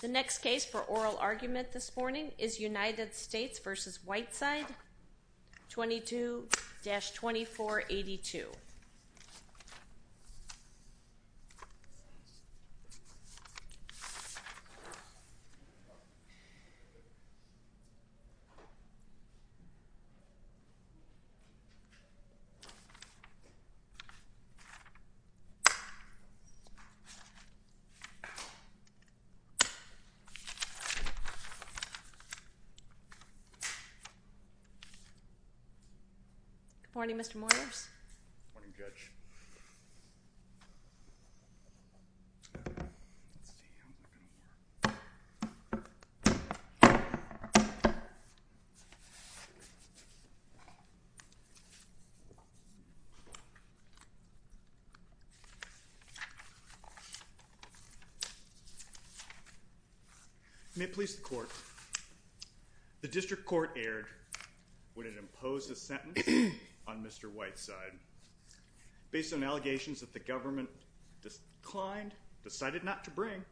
The next case for oral argument this morning is United States v. Whiteside, 22-2482. Good morning, Mr. Moyers. Good morning, Judge. May it please the court, the district court erred when it imposed a sentence on Mr. Whiteside based on allegations that the government declined, decided not to bring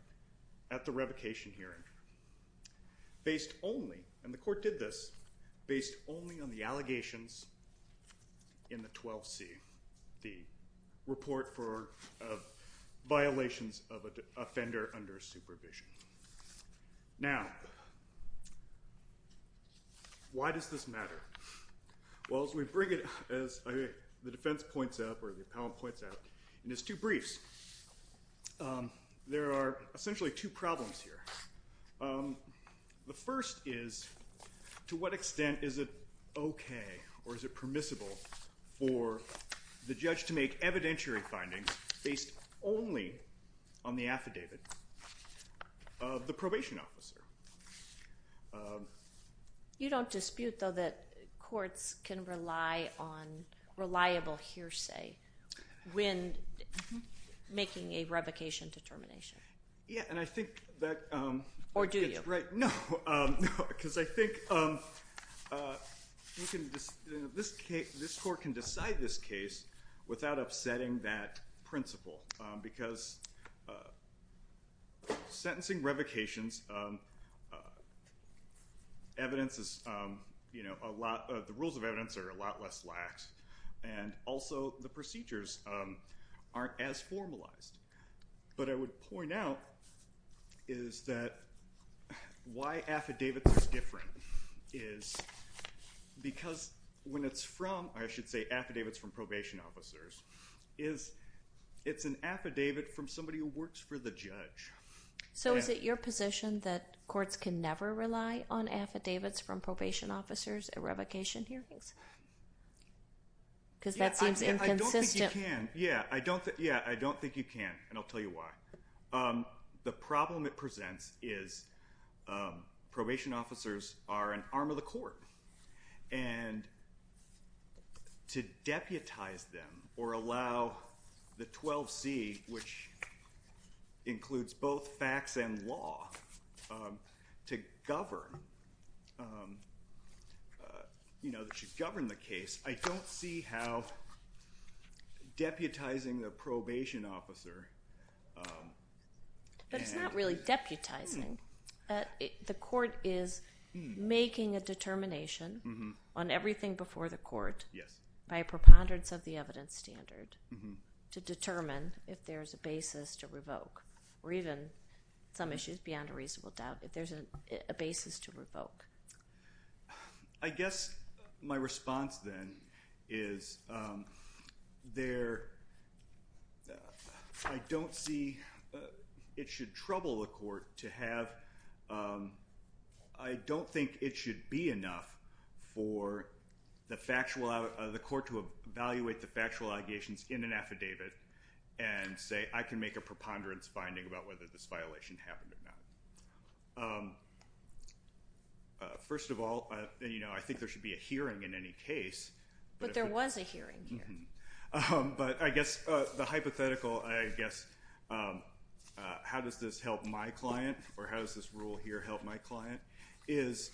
at the revocation hearing. Based only, and the court did this, based only on the allegations in the 12C, the report for violations of an offender under supervision. Now, why does this matter? Well, as we bring it, as the defense points out, or the appellant points out, in his two briefs, there are essentially two problems here. The first is, to what extent is it okay or is it permissible for the judge to make evidentiary findings based only on the affidavit of the probation officer? You don't dispute, though, that courts can rely on reliable hearsay when making a revocation determination? Yeah, and I think that... Or do you? Right, no, because I think this court can decide this case without upsetting that principle, because sentencing revocations, the rules of evidence are a lot less lax, and also the procedures aren't as formalized. But I would point out is that why affidavits are different is because when it's from, or I should say affidavits from probation officers, it's an affidavit from somebody who works for the judge. So is it your position that courts can never rely on affidavits from probation officers at revocation hearings? Because that seems inconsistent. I don't think you can. Yeah, I don't think you can, and I'll tell you why. The problem it presents is probation officers are an arm of the court, and to deputize them or allow the 12C, which includes both facts and law, to govern the case, I don't see how deputizing a probation officer... But it's not really deputizing. The court is making a determination on everything before the court by a preponderance of the evidence standard to determine if there's a basis to revoke, or even some issues beyond a reasonable doubt, if there's a basis to revoke. I guess my response, then, is I don't see it should trouble the court to have... I don't think it should be enough for the court to evaluate the factual allegations in an affidavit and say, I can make a preponderance finding about whether this violation happened or not. First of all, I think there should be a hearing in any case. But there was a hearing here. But I guess the hypothetical, I guess, how does this help my client, or how does this rule here help my client, is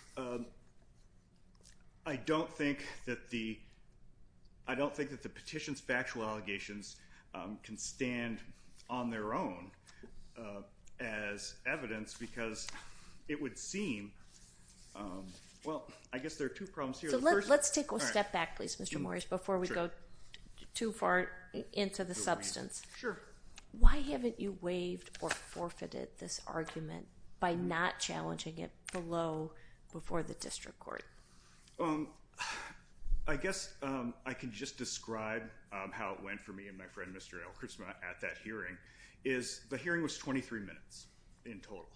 I don't think that the petitions factual allegations can stand on their own as evidence, because it would seem... Well, I guess there are two problems here. Let's take a step back, please, Mr. Morris, before we go too far into the substance. Sure. Why haven't you waived or forfeited this argument by not challenging it below, before the district court? I guess I can just describe how it went for me and my friend, Mr. Elkrisma, at that hearing, is the hearing was 23 minutes in total.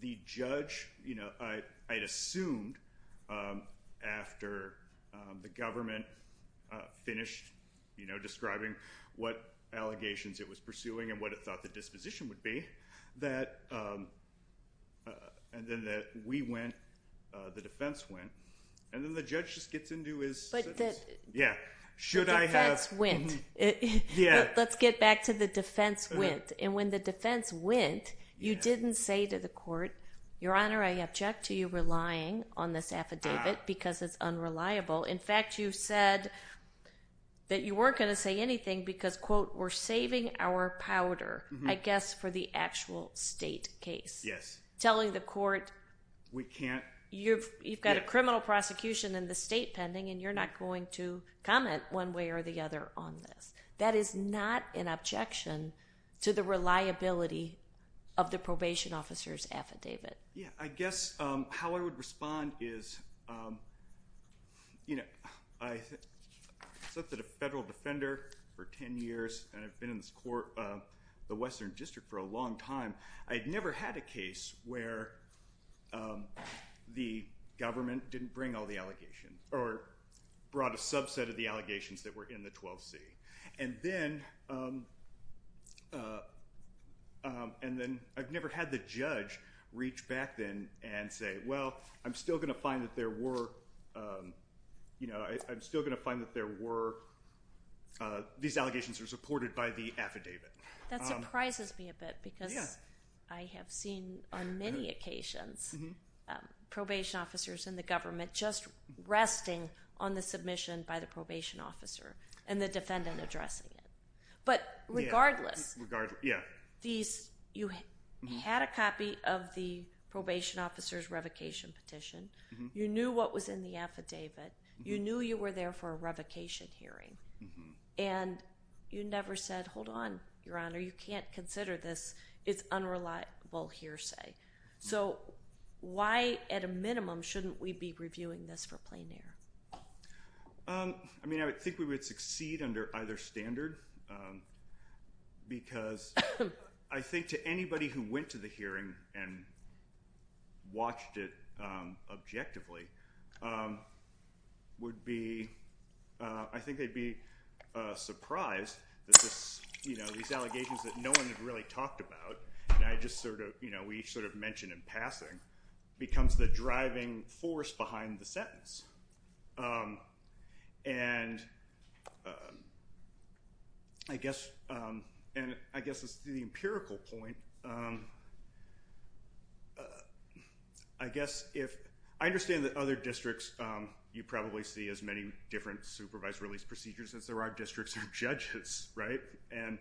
The judge, I'd assumed after the government finished describing what allegations it was pursuing and what it thought the disposition would be, that we went, the defense went, and then the judge just gets into his sentence. The defense went. Let's get back to the defense went. And when the defense went, you didn't say to the court, Your Honor, I object to you relying on this affidavit because it's unreliable. In fact, you said that you weren't going to say anything because, quote, we're saving our powder, I guess, for the actual state case. Yes. Telling the court... We can't... You've got a criminal prosecution in the state pending, and you're not going to comment one way or the other on this. That is not an objection to the reliability of the probation officer's affidavit. Yeah. I guess how I would respond is, you know, I served as a federal defender for 10 years, and I've been in this court, the Western District, for a long time. I'd never had a case where the government didn't bring all the allegations or brought a subset of the allegations that were in the 12C. And then I've never had the judge reach back then and say, Well, I'm still going to find that there were, you know, I'm still going to find that there were, these allegations are supported by the affidavit. That surprises me a bit because I have seen, on many occasions, probation officers in the government just resting on the submission by the probation officer and the defendant addressing it. But regardless, you had a copy of the probation officer's revocation petition, you knew what was in the affidavit, you knew you were there for a revocation hearing, and you never said, Hold on, Your Honor, you can't consider this, it's unreliable hearsay. So why, at a minimum, shouldn't we be reviewing this for plain air? I mean, I think we would succeed under either standard because I think to anybody who went to the hearing and watched it objectively would be, I think they'd be surprised that this, you know, these allegations that no one had really talked about, and I just sort of, you know, we each sort of mentioned in passing, becomes the driving force behind the sentence. And I guess, and I guess this is the empirical point, I guess if, I understand that other districts, you probably see as many different supervised release procedures as there are districts or judges, right? And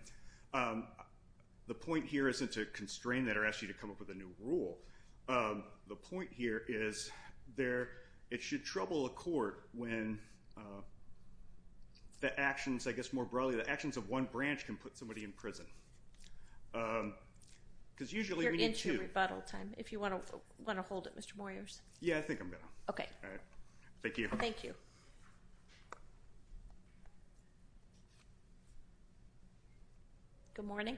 the point here isn't to constrain that or ask you to come up with a new rule. The point here is there, it should trouble a court when the actions, I guess more broadly, the actions of one branch can put somebody in prison. Because usually we need two. You're into rebuttal time. If you want to hold it, Mr. Moyers. Yeah, I think I'm good. Okay. All right. Thank you. Thank you. Good morning.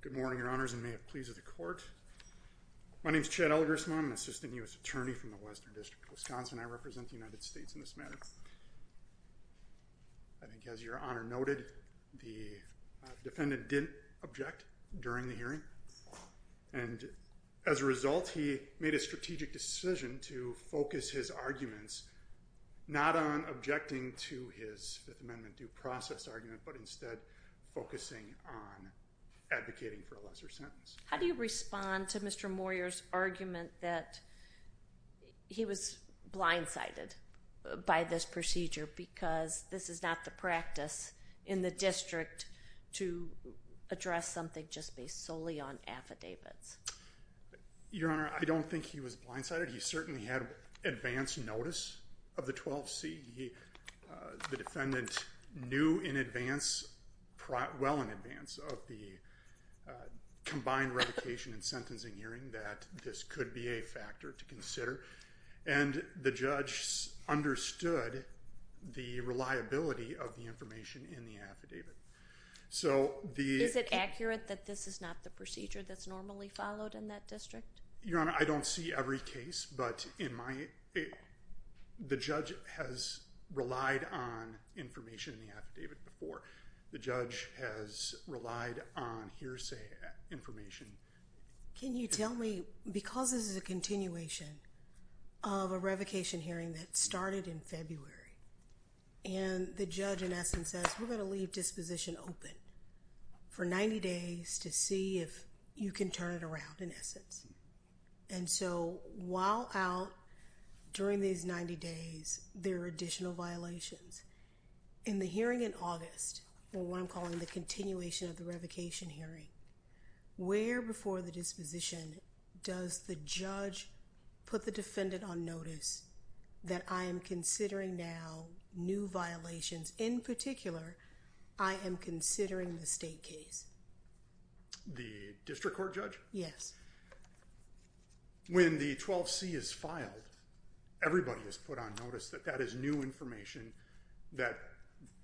Good morning, Your Honors, and may it please the court. My name is Chad Elgersman. I'm an assistant U.S. attorney from the Western District of Wisconsin. I represent the United States in this matter. I think as Your Honor noted, the defendant didn't object during the hearing. And as a result, he made a strategic decision to focus his arguments not on objecting to his Fifth Amendment due process argument, but instead focusing on advocating for a lesser sentence. How do you respond to Mr. Moyers' argument that he was blindsided by this procedure because this is not the practice in the district to address something just based solely on affidavits? Your Honor, I don't think he was blindsided. He certainly had advance notice of the 12C. The defendant knew in advance, well in advance, of the combined revocation and sentencing hearing that this could be a factor to consider. And the judge understood the reliability of the information in the affidavit. Is it accurate that this is not the procedure that's normally followed in that district? Your Honor, I don't see every case, but the judge has relied on information in the affidavit before. The judge has relied on hearsay information. Can you tell me, because this is a continuation of a revocation hearing that started in February, and the judge, in essence, says, we're going to leave disposition open for 90 days to see if you can turn it around, in essence. And so while out during these 90 days, there are additional violations. In the hearing in August, or what I'm calling the continuation of the revocation hearing, where before the disposition does the judge put the defendant on notice that I am considering now new violations? In particular, I am considering the state case. The district court judge? Yes. When the 12C is filed, everybody is put on notice that that is new information that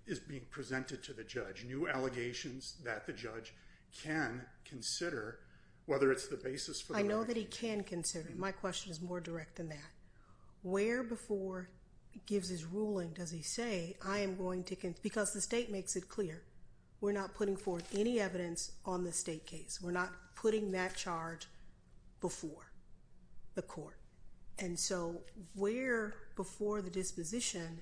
is being presented to the judge. New allegations that the judge can consider, whether it's the basis for the revocation. I know that he can consider it. My question is more direct than that. Where before gives his ruling, does he say, I am going to, because the state makes it clear. We're not putting forth any evidence on the state case. We're not putting that charge before the court. And so where before the disposition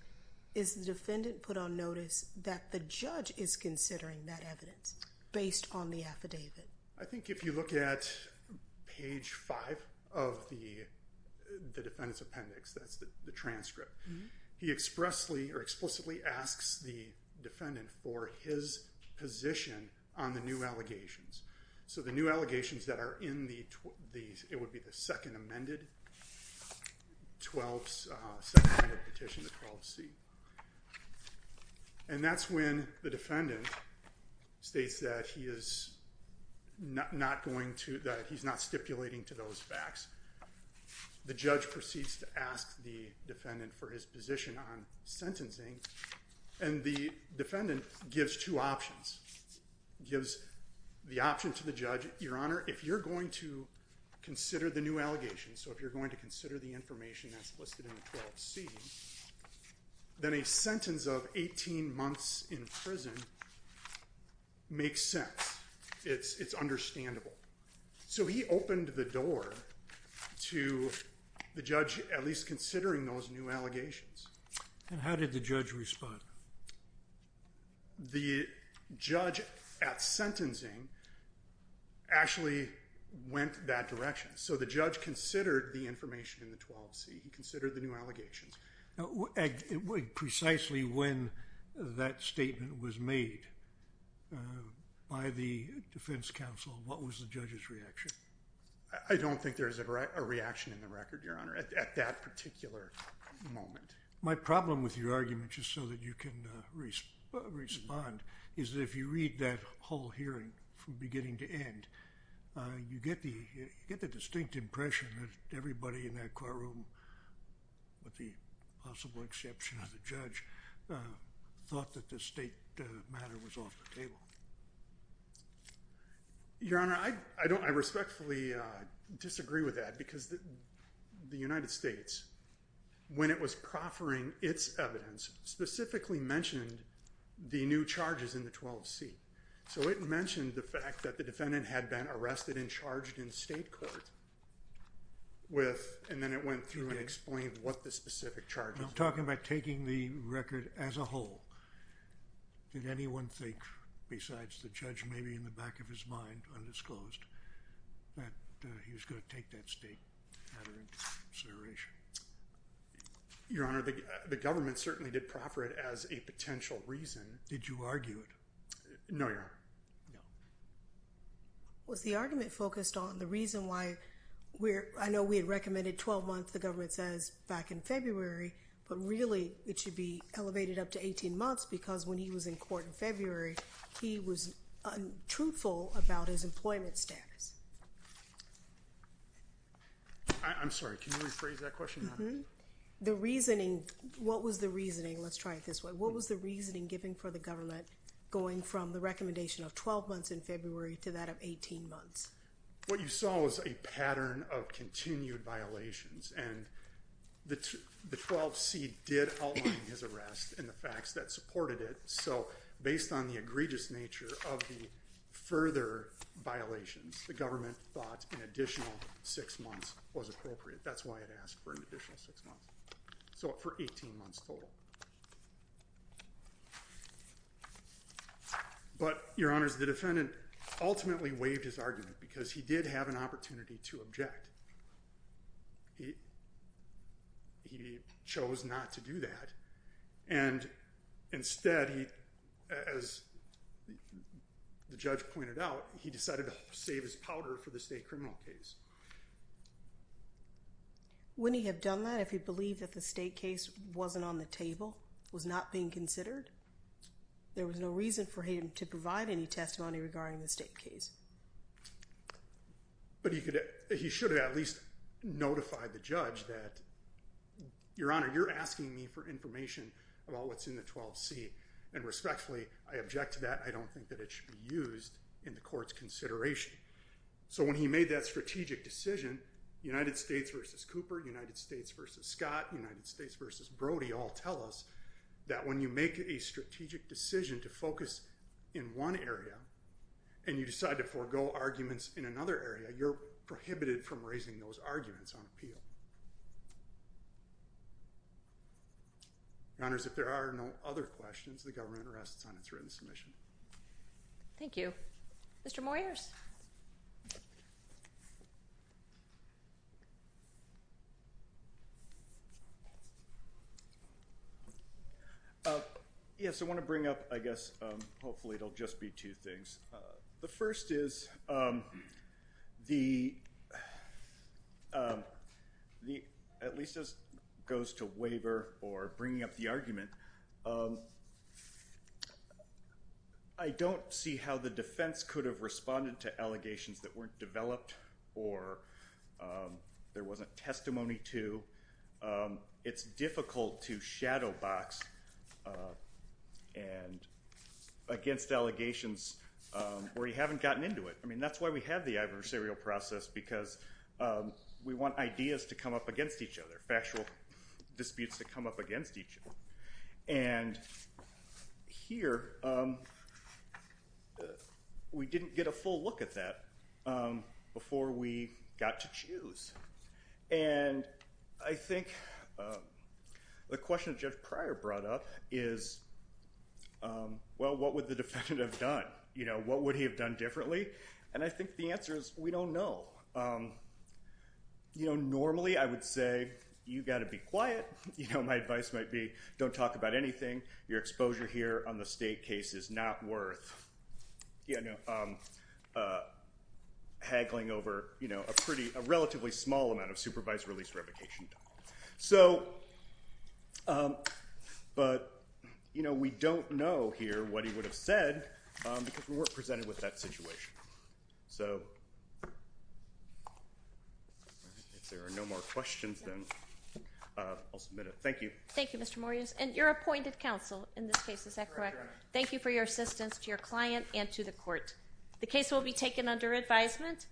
is the defendant put on notice that the judge is considering that evidence based on the affidavit? I think if you look at page five of the defendant's appendix, that's the transcript. He expressly or explicitly asks the defendant for his position on the new allegations. So the new allegations that are in these, it would be the second amended. 12 second amended petition to 12C. And that's when the defendant states that he is not going to, that he's not stipulating to those facts. The judge proceeds to ask the defendant for his position on sentencing. And the defendant gives two options. Gives the option to the judge. Your Honor, if you're going to consider the new allegations, so if you're going to consider the information that's listed in 12C, then a sentence of 18 months in prison makes sense. It's understandable. So he opened the door to the judge, at least considering those new allegations. And how did the judge respond? The judge at sentencing actually went that direction. So the judge considered the information in the 12C and considered the new allegations. Now, precisely when that statement was made by the defense counsel, what was the judge's reaction? I don't think there's a reaction in the record, Your Honor, at that particular moment. My problem with your argument, just so that you can respond, is that if you read that whole hearing from beginning to end, you get the distinct impression that everybody in that courtroom, with the possible exception of the judge, thought that the state matter was off the table. Your Honor, I respectfully disagree with that, because the United States, when it was proffering its evidence, specifically mentioned the new charges in the 12C. So it mentioned the fact that the defendant had been arrested and charged in state court, and then it went through and explained what the specific charges were. I'm talking about taking the record as a whole. Did anyone think, besides the judge maybe in the back of his mind, undisclosed, that he was going to take that state matter into consideration? Your Honor, the government certainly did proffer it as a potential reason. Did you argue it? No, Your Honor, no. Was the argument focused on the reason why we're—I know we had recommended 12 months, the government says, back in February, but really it should be elevated up to 18 months, because when he was in court in February, he was untruthful about his employment status. I'm sorry, can you rephrase that question, Your Honor? The reasoning—what was the reasoning—let's try it this way—what was the reasoning given for the government going from the recommendation of 12 months in February to that of 18 months? What you saw was a pattern of continued violations, and the 12C did outline his arrest and the facts that supported it. So, based on the egregious nature of the further violations, the government thought an additional six months was appropriate. That's why it asked for an additional six months, so for 18 months total. But, Your Honors, the defendant ultimately waived his argument, because he did have an opportunity to object. He chose not to do that, and instead, as the judge pointed out, he decided to save his powder for the state criminal case. Wouldn't he have done that if he believed that the state case wasn't on the table, was not being considered? There was no reason for him to provide any testimony regarding the state case. But he should have at least notified the judge that, Your Honor, you're asking me for information about what's in the 12C, and respectfully, I object to that. I don't think that it should be used in the court's consideration. So, when he made that strategic decision, United States v. Cooper, United States v. Scott, United States v. Brody all tell us that when you make a strategic decision to focus in one area, and you decide to forego arguments in another area, you're prohibited from raising those arguments on appeal. Your Honors, if there are no other questions, the government rests on its written submission. Thank you. Mr. Moyers. Yes, I want to bring up, I guess, hopefully it'll just be two things. The first is, at least as it goes to waiver or bringing up the argument, I don't see how the defense could have responded to allegations that weren't developed or there wasn't testimony to. It's difficult to shadow box against allegations where you haven't gotten into it. I mean, that's why we have the adversarial process, because we want ideas to come up against each other, factual disputes to come up against each other. And here, we didn't get a full look at that before we got to choose. And I think the question that Jeff Pryor brought up is, well, what would the defendant have done? What would he have done differently? And I think the answer is, we don't know. Normally, I would say, you've got to be quiet. My advice might be, don't talk about anything. Your exposure here on the state case is not worth haggling over a relatively small amount of supervised release revocation. But we don't know here what he would have said, because we weren't presented with that situation. If there are no more questions, then I'll submit it. Thank you. Thank you, Mr. Morris. And you're appointed counsel in this case, is that correct? Correct. Thank you for your assistance to your client and to the court. The case will be taken under advisement.